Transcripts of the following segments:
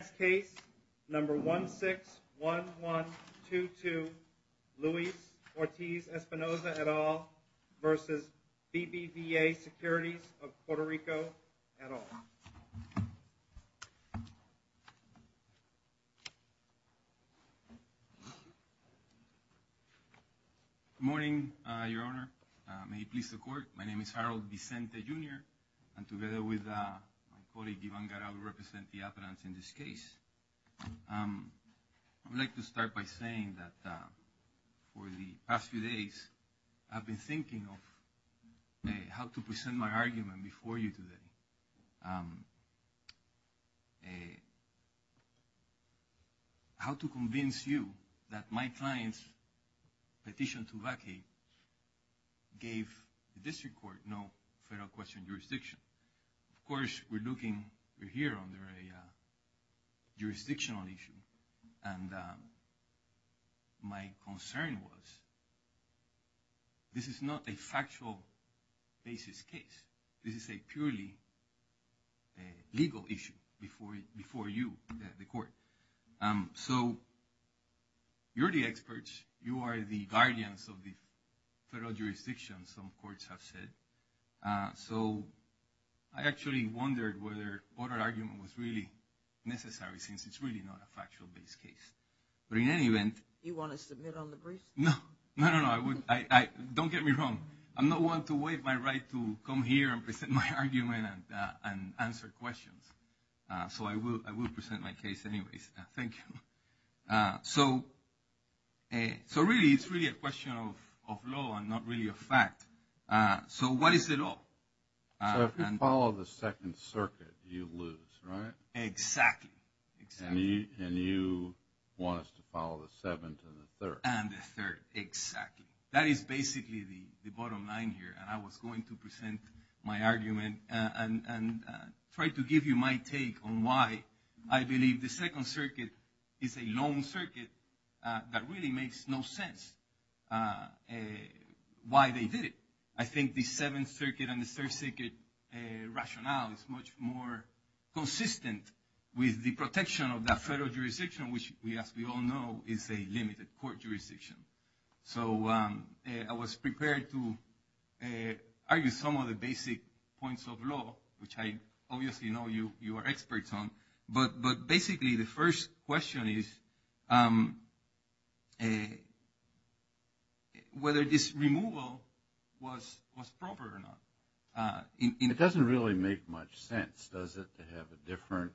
Next case, number 161122, Luis Ortiz-Espinosa et al. v. BBVA Securities of Puerto Rico et al. Good morning, Your Honor. May it please the Court. My name is Harold Vicente, Jr., and together with my colleague, Yvonne Garraud, we represent the applicants in this case. I'd like to start by saying that for the past few days, I've been thinking of how to present my argument before you today, how to convince you that my client's petition to vacate gave the District Court no federal question jurisdiction. Of course, we're looking, we're here under a jurisdictional issue, and my concern was this is not a factual basis case. This is a purely legal issue before you, the Court. So you're the experts. You are the guardians of the federal jurisdiction, some courts have said. So I actually wondered whether what our argument was really necessary, since it's really not a factual-based case. But in any event... You want to submit on the briefs? No. No, no, no. Don't get me wrong. I'm not one to waive my right to come here and present my argument and answer questions. So I will present my case anyways. Thank you. So really, it's really a question of law and not really a fact. So what is the law? So if you follow the Second Circuit, you lose, right? Exactly. And you want us to follow the Seventh and the Third? And the Third, exactly. That is basically the bottom line here. And I was going to present my argument and try to give you my take on why I believe the Second Circuit is a long circuit that really makes no sense why they did it. I think the Seventh Circuit and the Third Circuit rationale is much more consistent with the protection of that federal jurisdiction, which, as we all know, is a limited court jurisdiction. So I was prepared to argue some of the basic points of law, which I obviously know you are experts on. But basically, the first question is whether this removal was proper or not. It doesn't really make much sense, does it, to have a different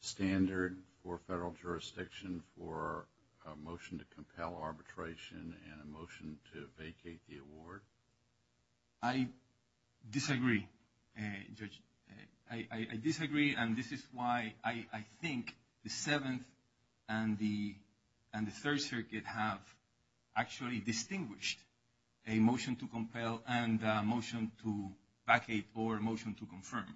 standard for federal jurisdiction for a motion to compel arbitration and a motion to vacate the award? I disagree, Judge. I disagree, and this is why I think the Seventh and the Third Circuit have actually distinguished a motion to compel and a motion to vacate or a motion to confirm,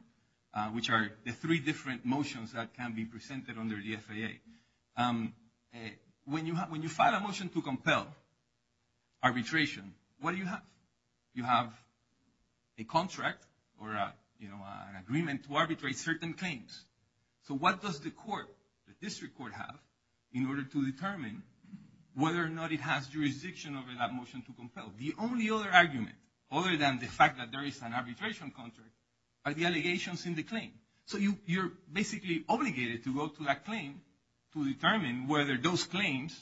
which are the three different motions that can be presented under the FAA. When you file a motion to compel arbitration, what do you have? You have a contract or an agreement to arbitrate certain claims. So what does the court, the district court, have in order to determine whether or not it has jurisdiction over that motion to compel? The only other argument, other than the fact that there is an arbitration contract, are the allegations in the claim. So you're basically obligated to go to that claim to determine whether those claims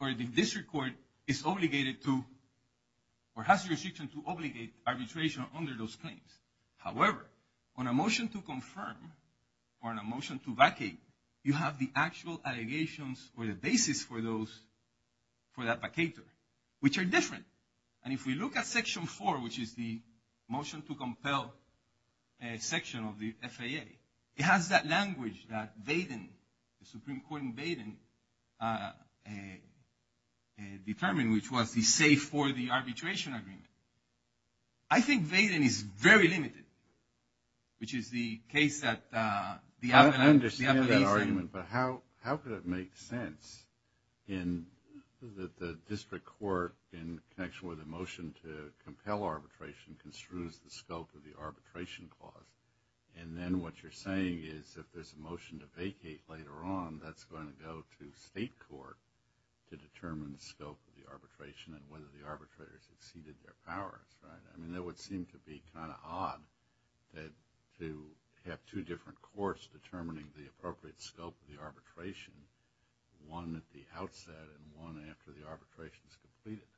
or the district court is obligated to or has jurisdiction to obligate arbitration under those claims. However, on a motion to confirm or on a motion to vacate, you have the actual allegations or the basis for that vacater, which are different. And if we look at Section 4, which is the motion to compel section of the FAA, it has that language that Vaden, the Supreme Court in Vaden, determined, which was the safe for the arbitration agreement. I think Vaden is very limited, which is the case that the appellees have. But how could it make sense in that the district court, in connection with the motion to compel arbitration, construes the scope of the arbitration clause? And then what you're saying is if there's a motion to vacate later on, that's going to go to state court to determine the scope of the arbitration and whether the arbitrators exceeded their powers, right? I mean, that would seem to be kind of odd to have two different courts determining the appropriate scope of the arbitration, one at the outset and one after the arbitration is completed.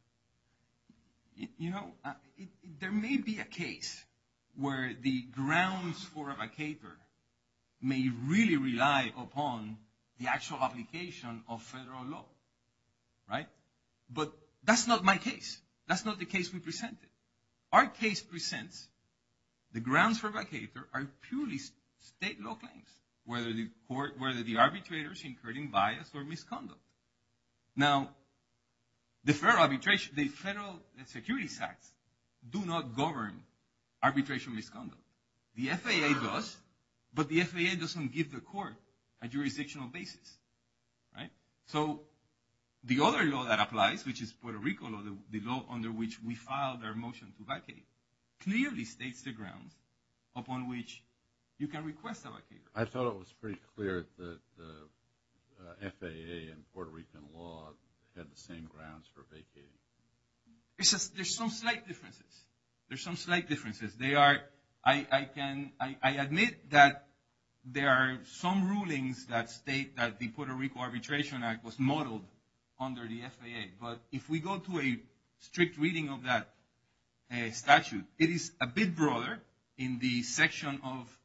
You know, there may be a case where the grounds for a vacater may really rely upon the actual application of federal law, right? But that's not my case. That's not the case we presented. Our case presents the grounds for vacater are purely state law claims, whether the arbitrators incurred in bias or misconduct. Now, the federal arbitration, the federal security sects do not govern arbitration misconduct. The FAA does, but the FAA doesn't give the court a jurisdictional basis, right? So the other law that applies, which is Puerto Rico law, the law under which we filed our motion to vacate, clearly states the grounds upon which you can request a vacater. I thought it was pretty clear that the FAA and Puerto Rican law had the same grounds for vacating. There's some slight differences. There's some slight differences. I admit that there are some rulings that state that the Puerto Rico Arbitration Act was modeled under the FAA, but if we go to a strict reading of that statute, it is a bit broader in the section of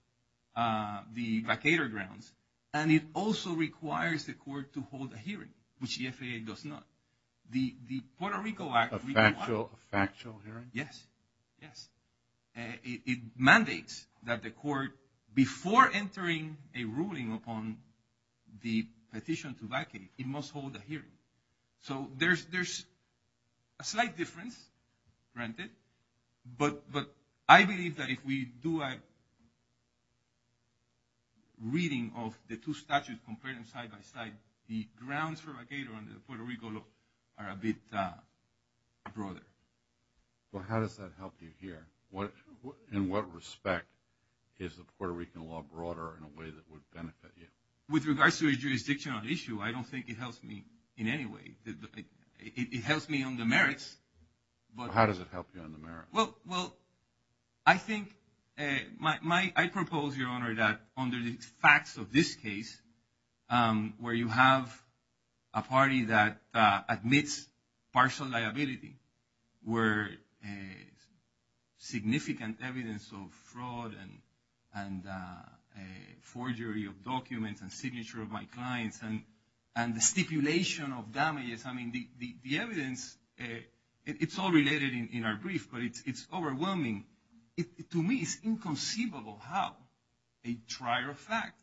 the vacater grounds, and it also requires the court to hold a hearing, which the FAA does not. The Puerto Rico Act requires a factual hearing. Yes, yes. It mandates that the court, before entering a ruling upon the petition to vacate, it must hold a hearing. So there's a slight difference, granted, but I believe that if we do a reading of the two statutes, and compare them side by side, the grounds for a vacater under the Puerto Rico law are a bit broader. Well, how does that help you here? In what respect is the Puerto Rican law broader in a way that would benefit you? With regards to a jurisdictional issue, I don't think it helps me in any way. It helps me on the merits. How does it help you on the merits? Well, I think I propose, Your Honor, that under the facts of this case, where you have a party that admits partial liability, where significant evidence of fraud and forgery of documents and signature of my clients and the stipulation of damages, I mean, the evidence, it's all related in our brief, but it's overwhelming. To me, it's inconceivable how a trier of fact,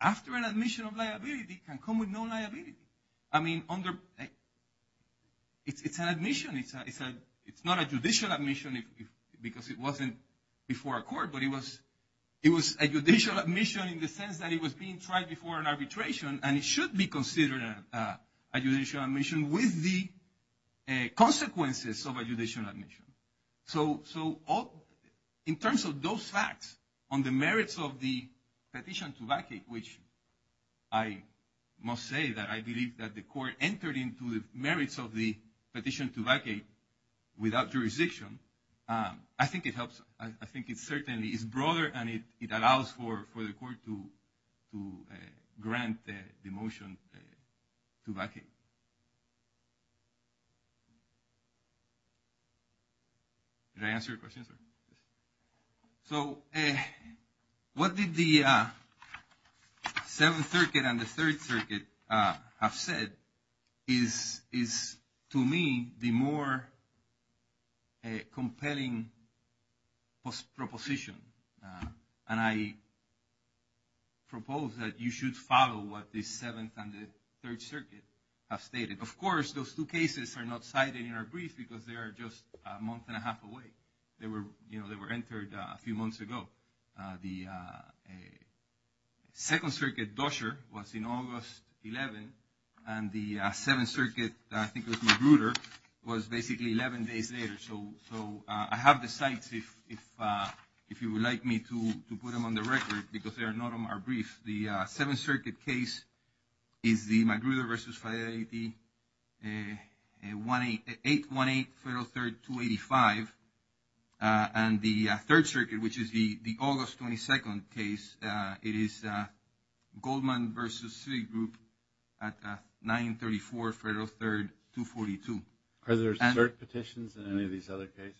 after an admission of liability, can come with no liability. I mean, it's an admission. It's not a judicial admission because it wasn't before a court, but it was a judicial admission in the sense that it was being tried before an arbitration, and it should be considered a judicial admission with the consequences of a judicial admission. So in terms of those facts, on the merits of the petition to vacate, which I must say that I believe that the court entered into the merits of the petition to vacate without jurisdiction, I think it helps. I think it certainly is broader, and it allows for the court to grant the motion to vacate. Did I answer your question, sir? So what did the Seventh Circuit and the Third Circuit have said is, to me, the more compelling proposition, and I propose that you should follow what the Seventh and the Third Circuit have stated. Of course, those two cases are not cited in our brief because they are just a month and a half away. They were entered a few months ago. The Second Circuit Dusher was in August 11, and the Seventh Circuit, I think it was Magruder, was basically 11 days later. So I have the sites if you would like me to put them on the record because they are not on our brief. The Seventh Circuit case is the Magruder v. Fidelity, 818 Federal 3rd, 285. And the Third Circuit, which is the August 22nd case, it is Goldman v. Citigroup at 934 Federal 3rd, 242. Are there cert petitions in any of these other cases?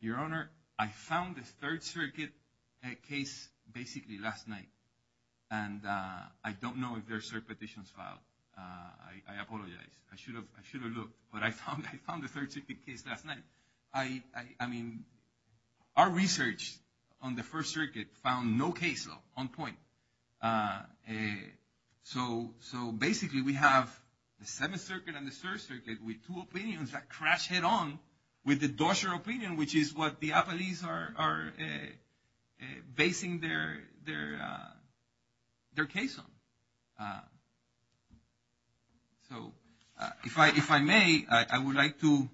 Your Honor, I found the Third Circuit case basically last night, and I don't know if there are cert petitions filed. I apologize. I should have looked, but I found the Third Circuit case last night. I mean, our research on the First Circuit found no case on point. So basically, we have the Seventh Circuit and the Third Circuit with two opinions that crash head-on with the Dusher opinion, which is what the appellees are basing their case on. So if I may, I would like to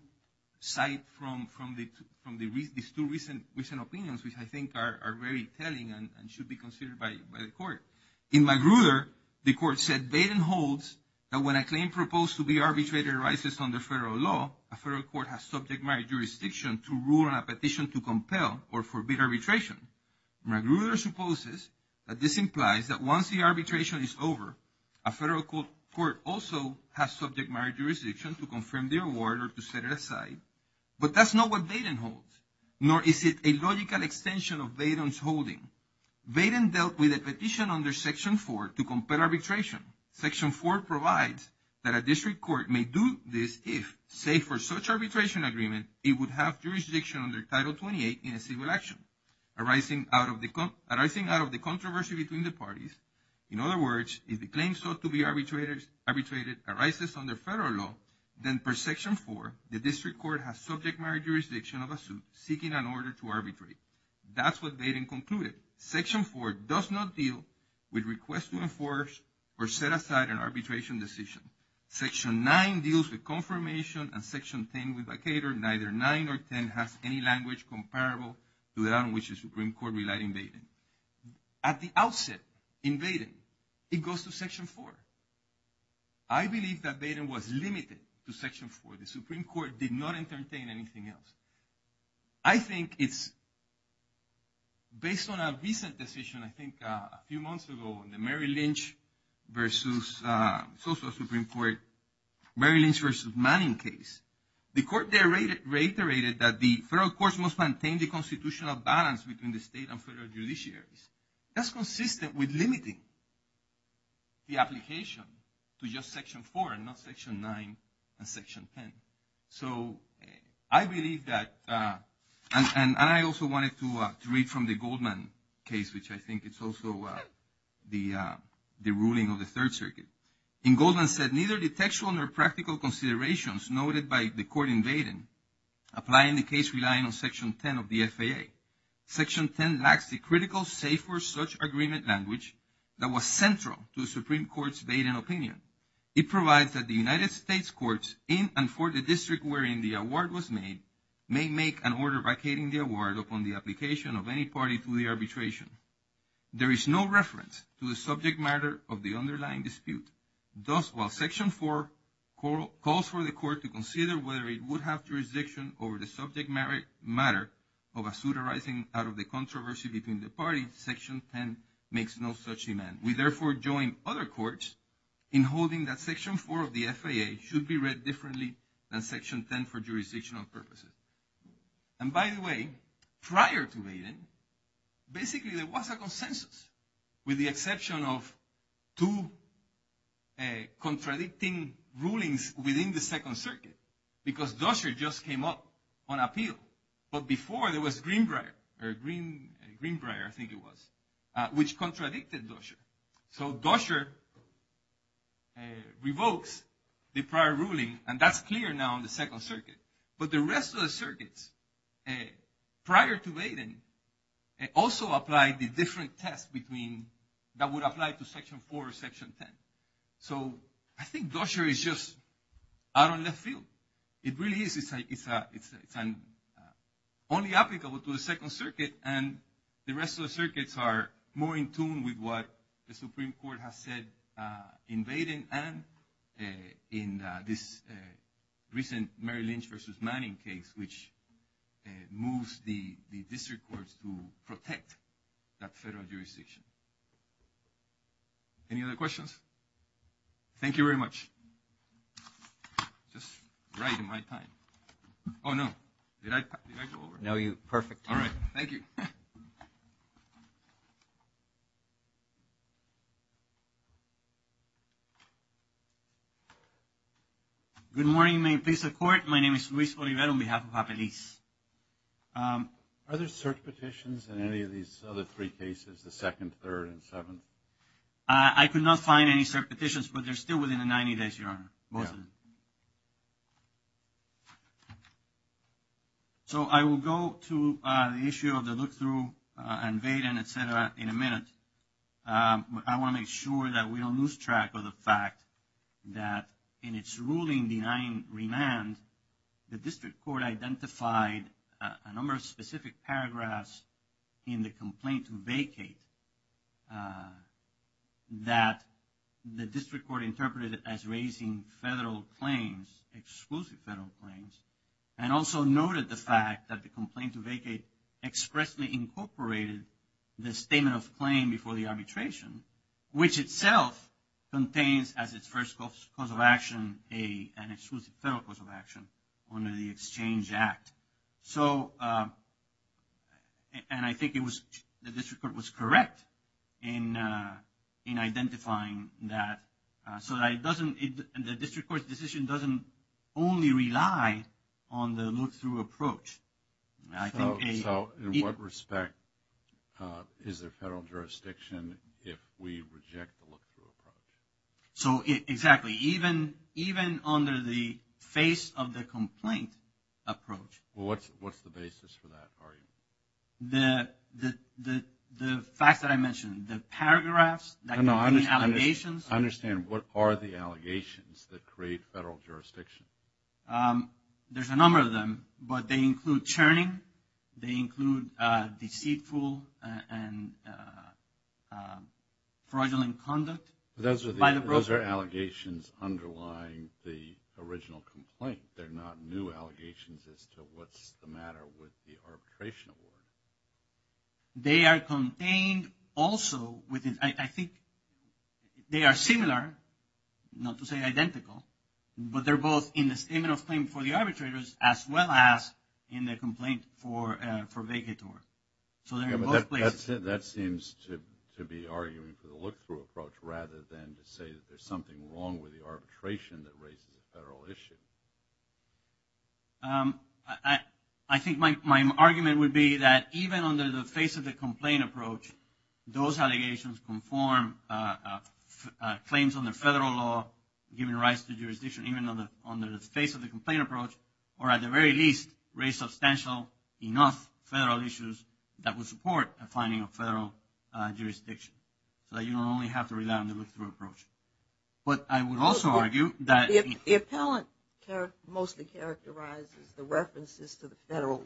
cite from these two recent opinions, which I think are very telling and should be considered by the Court. In Magruder, the Court said Baden holds that when a claim proposed to be arbitrated arises under federal law, a federal court has subject matter jurisdiction to rule on a petition to compel or forbid arbitration. Magruder supposes that this implies that once the arbitration is over, a federal court also has subject matter jurisdiction to confirm the award or to set it aside. But that's not what Baden holds, nor is it a logical extension of Baden's holding. Baden dealt with a petition under Section 4 to compel arbitration. Section 4 provides that a district court may do this if, say, for such arbitration agreement, it would have jurisdiction under Title 28 in a civil action arising out of the controversy between the parties. In other words, if the claim sought to be arbitrated arises under federal law, then per Section 4, the district court has subject matter jurisdiction of a suit seeking an order to arbitrate. That's what Baden concluded. Section 4 does not deal with requests to enforce or set aside an arbitration decision. Section 9 deals with confirmation, and Section 10 with vacator. Neither 9 or 10 has any language comparable to that on which the Supreme Court relied in Baden. At the outset in Baden, it goes to Section 4. I believe that Baden was limited to Section 4. The Supreme Court did not entertain anything else. I think it's based on a recent decision, I think a few months ago, in the Mary Lynch v. Social Supreme Court, Mary Lynch v. Manning case. The court there reiterated that the federal courts must maintain the constitutional balance between the state and federal judiciaries. That's consistent with limiting the application to just Section 4 and not Section 9 and Section 10. So I believe that, and I also wanted to read from the Goldman case, which I think is also the ruling of the Third Circuit. In Goldman said, neither the textual nor practical considerations noted by the court in Baden apply in the case relying on Section 10 of the FAA. Section 10 lacks the critical say for such agreement language that was central to the Supreme Court's Baden opinion. It provides that the United States courts in and for the district wherein the award was made, may make an order vacating the award upon the application of any party to the arbitration. There is no reference to the subject matter of the underlying dispute. Thus, while Section 4 calls for the court to consider whether it would have jurisdiction over the subject matter of a suit arising out of the controversy between the parties, Section 10 makes no such demand. We therefore join other courts in holding that Section 4 of the FAA should be read differently than Section 10 for jurisdictional purposes. And by the way, prior to Baden, basically there was a consensus, with the exception of two contradicting rulings within the Second Circuit, because Dusher just came up on appeal. But before, there was Greenbrier, or Greenbrier, I think it was, which contradicted Dusher. So Dusher revokes the prior ruling, and that's clear now in the Second Circuit. But the rest of the circuits, prior to Baden, also applied the different test that would apply to Section 4 or Section 10. So I think Dusher is just out on left field. It really is. It's only applicable to the Second Circuit, and the rest of the circuits are more in tune with what the Supreme Court has said in Baden and in this recent Mary Lynch versus Manning case, which moves the district courts to protect that federal jurisdiction. Any other questions? Thank you very much. Just right in my time. Oh, no. No, you – perfect. All right. Thank you. Good morning. May it please the Court. My name is Luis Olivero, on behalf of Japaliz. Are there cert petitions in any of these other three cases, the second, third, and seventh? I could not find any cert petitions, but they're still within the 90 days, Your Honor. Both of them. Thank you. So I will go to the issue of the look-through and Baden, et cetera, in a minute. But I want to make sure that we don't lose track of the fact that in its ruling denying remand, the district court identified a number of specific paragraphs in the complaint to vacate that the district court interpreted as raising federal claims, exclusive federal claims, and also noted the fact that the complaint to vacate expressly incorporated the statement of claim before the arbitration, which itself contains as its first cause of action an exclusive federal cause of action under the Exchange Act. So, and I think the district court was correct in identifying that. So the district court's decision doesn't only rely on the look-through approach. So in what respect is there federal jurisdiction if we reject the look-through approach? So exactly, even under the face of the complaint approach. Well, what's the basis for that argument? The facts that I mentioned, the paragraphs, the allegations. I understand. What are the allegations that create federal jurisdiction? There's a number of them, but they include churning. They include deceitful and fraudulent conduct. Those are allegations underlying the original complaint. They're not new allegations as to what's the matter with the arbitration award. They are contained also within, I think, they are similar, not to say identical, but they're both in the statement of claim for the arbitrators as well as in the complaint for vacator. So they're in both places. Yeah, but that seems to be arguing for the look-through approach rather than to say that there's something wrong with the arbitration that raises a federal issue. I think my argument would be that even under the face of the complaint approach, those allegations conform claims under federal law, given rights to jurisdiction, even under the face of the complaint approach, or at the very least, raise substantial enough federal issues that would support a finding of federal jurisdiction, so that you don't only have to rely on the look-through approach. But I would also argue that the appellant mostly characterizes the references to the federal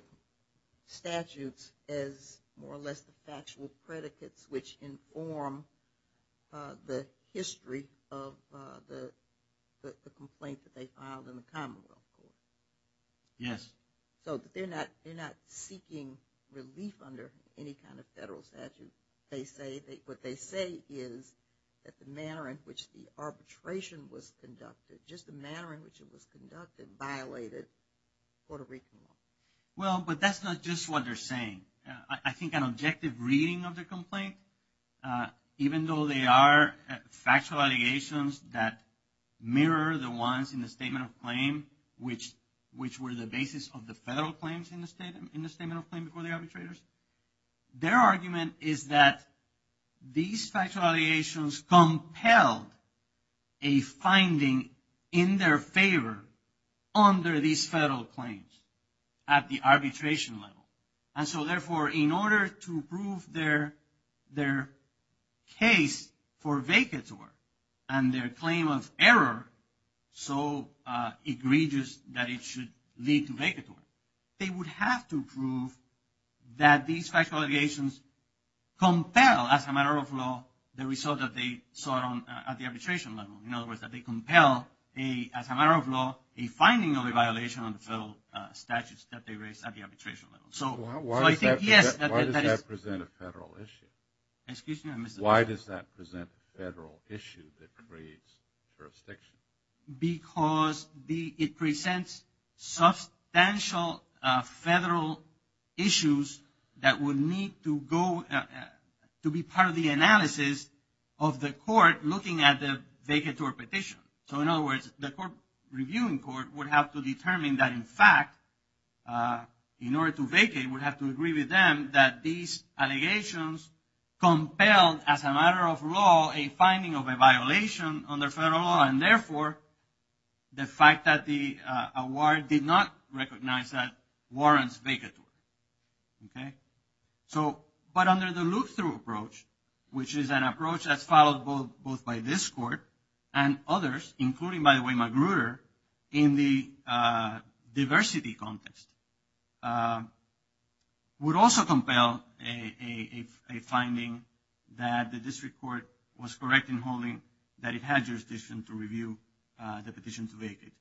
statutes as more or less the factual predicates which inform the history of the complaint that they filed in the commonwealth court. Yes. So they're not seeking relief under any kind of federal statute. What they say is that the manner in which the arbitration was conducted, just the manner in which it was conducted, violated Puerto Rican law. Well, but that's not just what they're saying. I think an objective reading of the complaint, even though they are factual allegations that mirror the ones in the statement of claim, which were the basis of the federal claims in the statement of claim before the arbitrators, their argument is that these factual allegations compelled a finding in their favor under these federal claims at the arbitration level. And so, therefore, in order to prove their case for vacatur and their claim of error so egregious that it should lead to vacatur, they would have to prove that these factual allegations compel, as a matter of law, the result that they sought at the arbitration level. In other words, that they compel, as a matter of law, a finding of a violation of the federal statutes that they raised at the arbitration level. So I think, yes, that is… Why does that present a federal issue? Excuse me? Why does that present a federal issue that creates jurisdiction? Because it presents substantial federal issues that would need to go… to be part of the analysis of the court looking at the vacatur petition. So, in other words, the court, reviewing court, would have to determine that, in fact, in order to vacate, would have to agree with them that these allegations compelled, as a matter of law, a finding of a violation under federal law and, therefore, the fact that the award did not recognize that warrants vacatur. Okay? So, but under the look-through approach, which is an approach that's followed both by this court and others, including, by the way, McGruder, in the diversity context, would also compel a finding that the district court was correct in holding that it had jurisdiction to review the petition to vacate.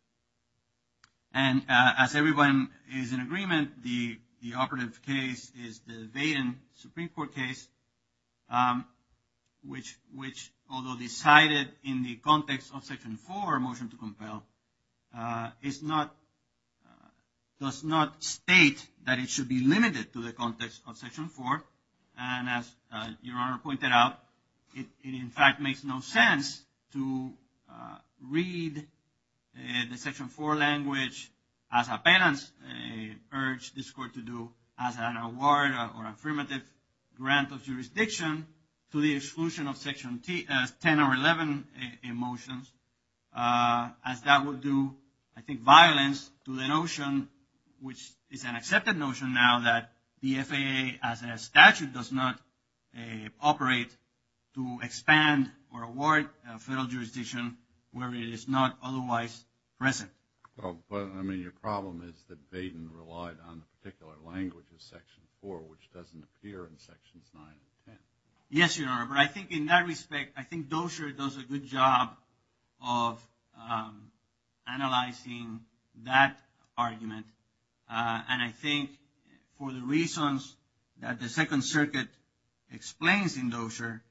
And as everyone is in agreement, the operative case is the Vaden Supreme Court case, which, although decided in the context of Section 4, motion to compel, does not state that it should be limited to the context of Section 4. And as Your Honor pointed out, it, in fact, makes no sense to read the Section 4 language as appellants, urge this court to do as an award or affirmative grant of jurisdiction to the exclusion of Section 10 or 11 motions, as that would do, I think, violence to the notion, which is an accepted notion now, that the FAA, as a statute, does not operate to expand or award federal jurisdiction where it is not otherwise present. Well, but, I mean, your problem is that Vaden relied on the particular language of Section 4, which doesn't appear in Sections 9 and 10. Yes, Your Honor, but I think in that respect, I think Dozier does a good job of analyzing that argument. And I think for the reasons that the Second Circuit explains in Dozier,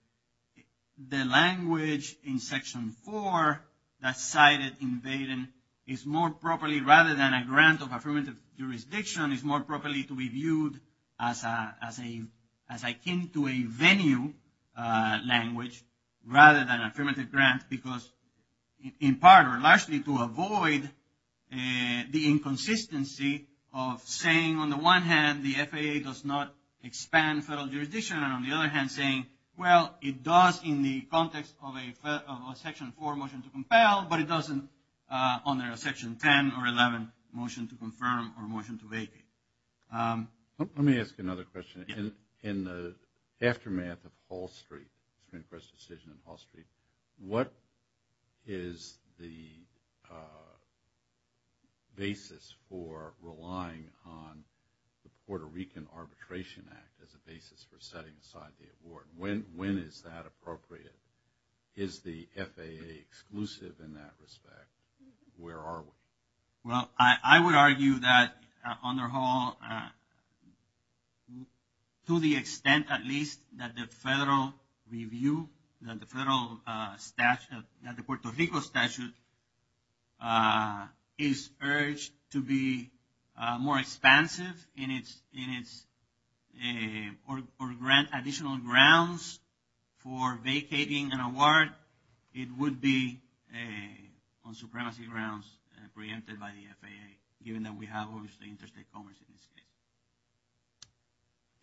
the language in Section 4 that's cited in Vaden is more properly, rather than a grant of affirmative jurisdiction, is more properly to be viewed as akin to a venue language, rather than affirmative grant, because in part or largely to avoid the inconsistency of saying, on the one hand, the FAA does not expand federal jurisdiction, and on the other hand, saying, well, it does in the context of a Section 4 motion to compel, but it doesn't under a Section 10 or 11 motion to confirm or motion to vacate. Let me ask you another question. In the aftermath of Hall Street, the Supreme Court's decision in Hall Street, what is the basis for relying on the Puerto Rican Arbitration Act as a basis for setting aside the award? When is that appropriate? Is the FAA exclusive in that respect? Where are we? Well, I would argue that under Hall, to the extent at least that the federal review, that the Puerto Rico statute is urged to be more expansive in its additional grounds for vacating an award, it would be on supremacy grounds preempted by the FAA, given that we have, obviously, interstate commerce in this case.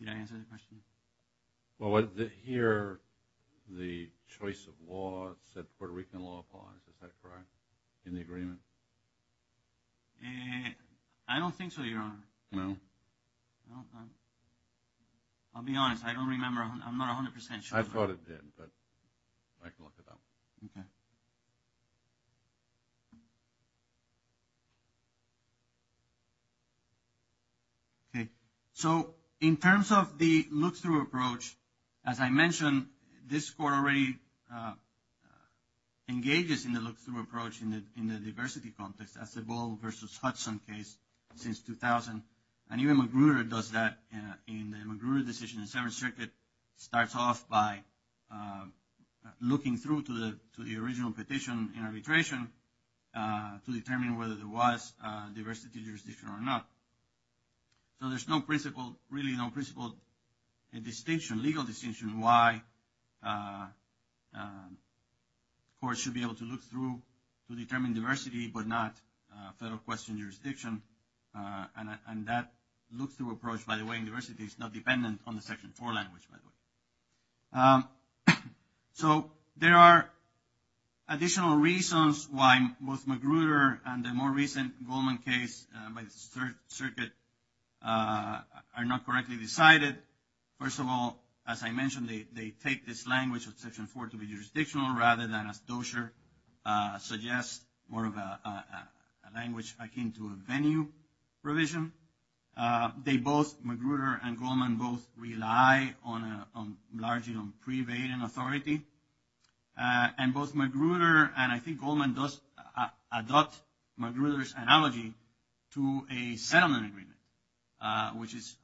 Did I answer the question? Well, here, the choice of law said Puerto Rican law applies. Is that correct in the agreement? I don't think so, Your Honor. No? No. I'll be honest. I don't remember. I'm not 100% sure. I thought it did, but I can look it up. Okay. Okay. So, in terms of the look-through approach, as I mentioned, this Court already engages in the look-through approach in the diversity context. That's the Ball v. Hudson case since 2000, and even Magruder does that in the Magruder decision. And the Seventh Circuit starts off by looking through to the original petition in arbitration to determine whether there was diversity jurisdiction or not. So, there's no principle, really no principle distinction, legal distinction, why courts should be able to look through to determine diversity but not federal question jurisdiction. And that look-through approach, by the way, in diversity is not dependent on the Section 4 language, by the way. So, there are additional reasons why both Magruder and the more recent Goldman case by the Third Circuit are not correctly decided. First of all, as I mentioned, they take this language of Section 4 to be jurisdictional rather than, as Dozier suggests, more of a language akin to a venue provision. They both, Magruder and Goldman, both rely on largely on pre-vading authority. And both Magruder and I think Goldman does adopt Magruder's analogy to a settlement agreement, which is,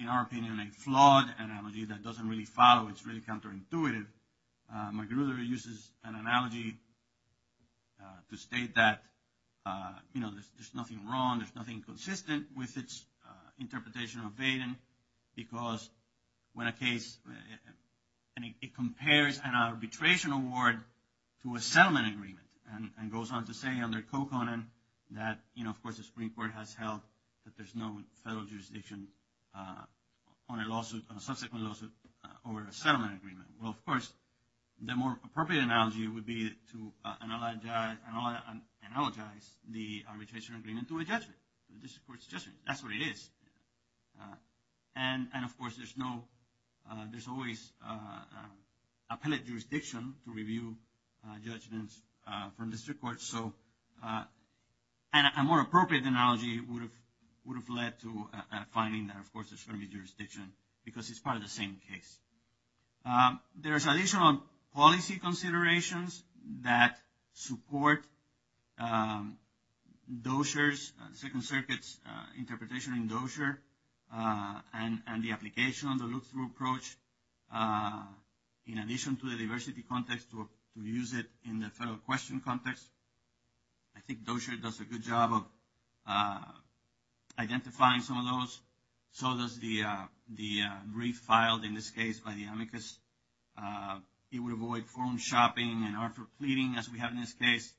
in our opinion, a flawed analogy that doesn't really follow. It's really counterintuitive. Magruder uses an analogy to state that, you know, there's nothing wrong, there's nothing consistent with its interpretation of vading because when a case, and it compares an arbitration award to a settlement agreement and goes on to say under Coconan that, you know, of course, the Supreme Court has held that there's no federal jurisdiction on a lawsuit, on a subsequent lawsuit over a settlement agreement. Well, of course, the more appropriate analogy would be to analogize the arbitration agreement to a judgment. That's what it is. And, of course, there's no, there's always appellate jurisdiction to review judgments from district courts. So, and a more appropriate analogy would have led to a finding that, of course, there's going to be jurisdiction because it's part of the same case. There's additional policy considerations that support Dozier's, Second Circuit's interpretation in Dozier and the application of the look-through approach in addition to the diversity context to use it in the federal question context. I think Dozier does a good job of identifying some of those. So does the brief filed, in this case, by the amicus. It would avoid phone shopping and artful pleading as we have in this case.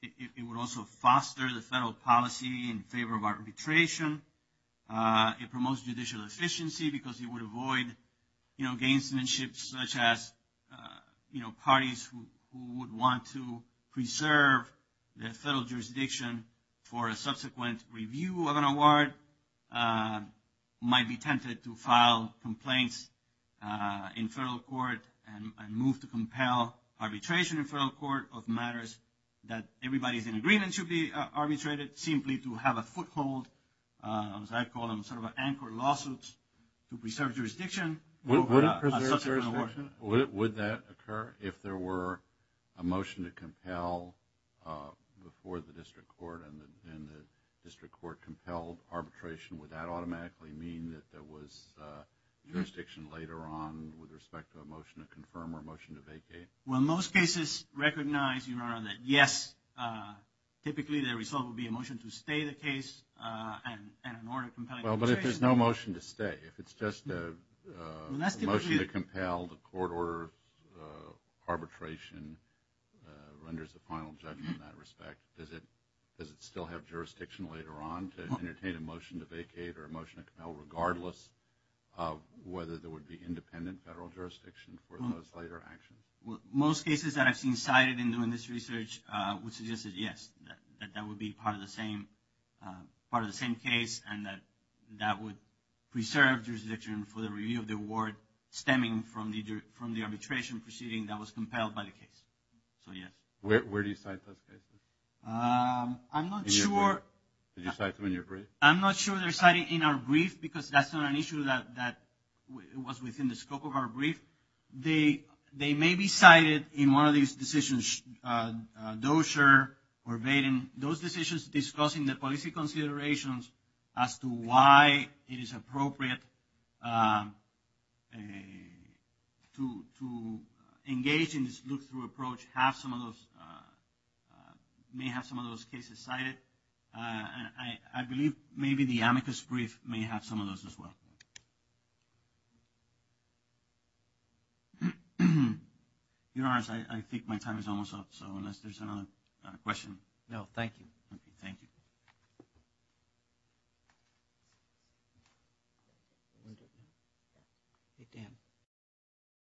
It would also foster the federal policy in favor of arbitration. It promotes judicial efficiency because it would avoid, you know, gainsmanship such as, you know, might be tempted to file complaints in federal court and move to compel arbitration in federal court of matters that everybody's in agreement should be arbitrated, simply to have a foothold, as I call them, sort of an anchor lawsuit to preserve jurisdiction. Would it preserve jurisdiction? Would that occur if there were a motion to compel before the district court and the district court compelled arbitration? Would that automatically mean that there was jurisdiction later on with respect to a motion to confirm or a motion to vacate? Well, most cases recognize, Your Honor, that yes, typically the result would be a motion to stay the case and an order of compelling arbitration. Well, but if there's no motion to stay, if it's just a motion to compel the court order arbitration renders a final judgment in that respect, does it still have jurisdiction later on to entertain a motion to vacate or a motion to compel, regardless of whether there would be independent federal jurisdiction for the most later action? Well, most cases that I've seen cited in doing this research would suggest that, yes, that would be part of the same case and that that would preserve jurisdiction for the review of the award stemming from the arbitration proceeding that was compelled by the case. So, yes. Where do you cite those cases? I'm not sure. Did you cite them in your brief? I'm not sure they're cited in our brief because that's not an issue that was within the scope of our brief. They may be cited in one of these decisions, Dozier or Baden, those decisions discussing the policy considerations as to why it is appropriate to engage in this look-through approach, have some of those, may have some of those cases cited. I believe maybe the amicus brief may have some of those as well. Your Honor, I think my time is almost up, so unless there's another question. No, thank you. Thank you.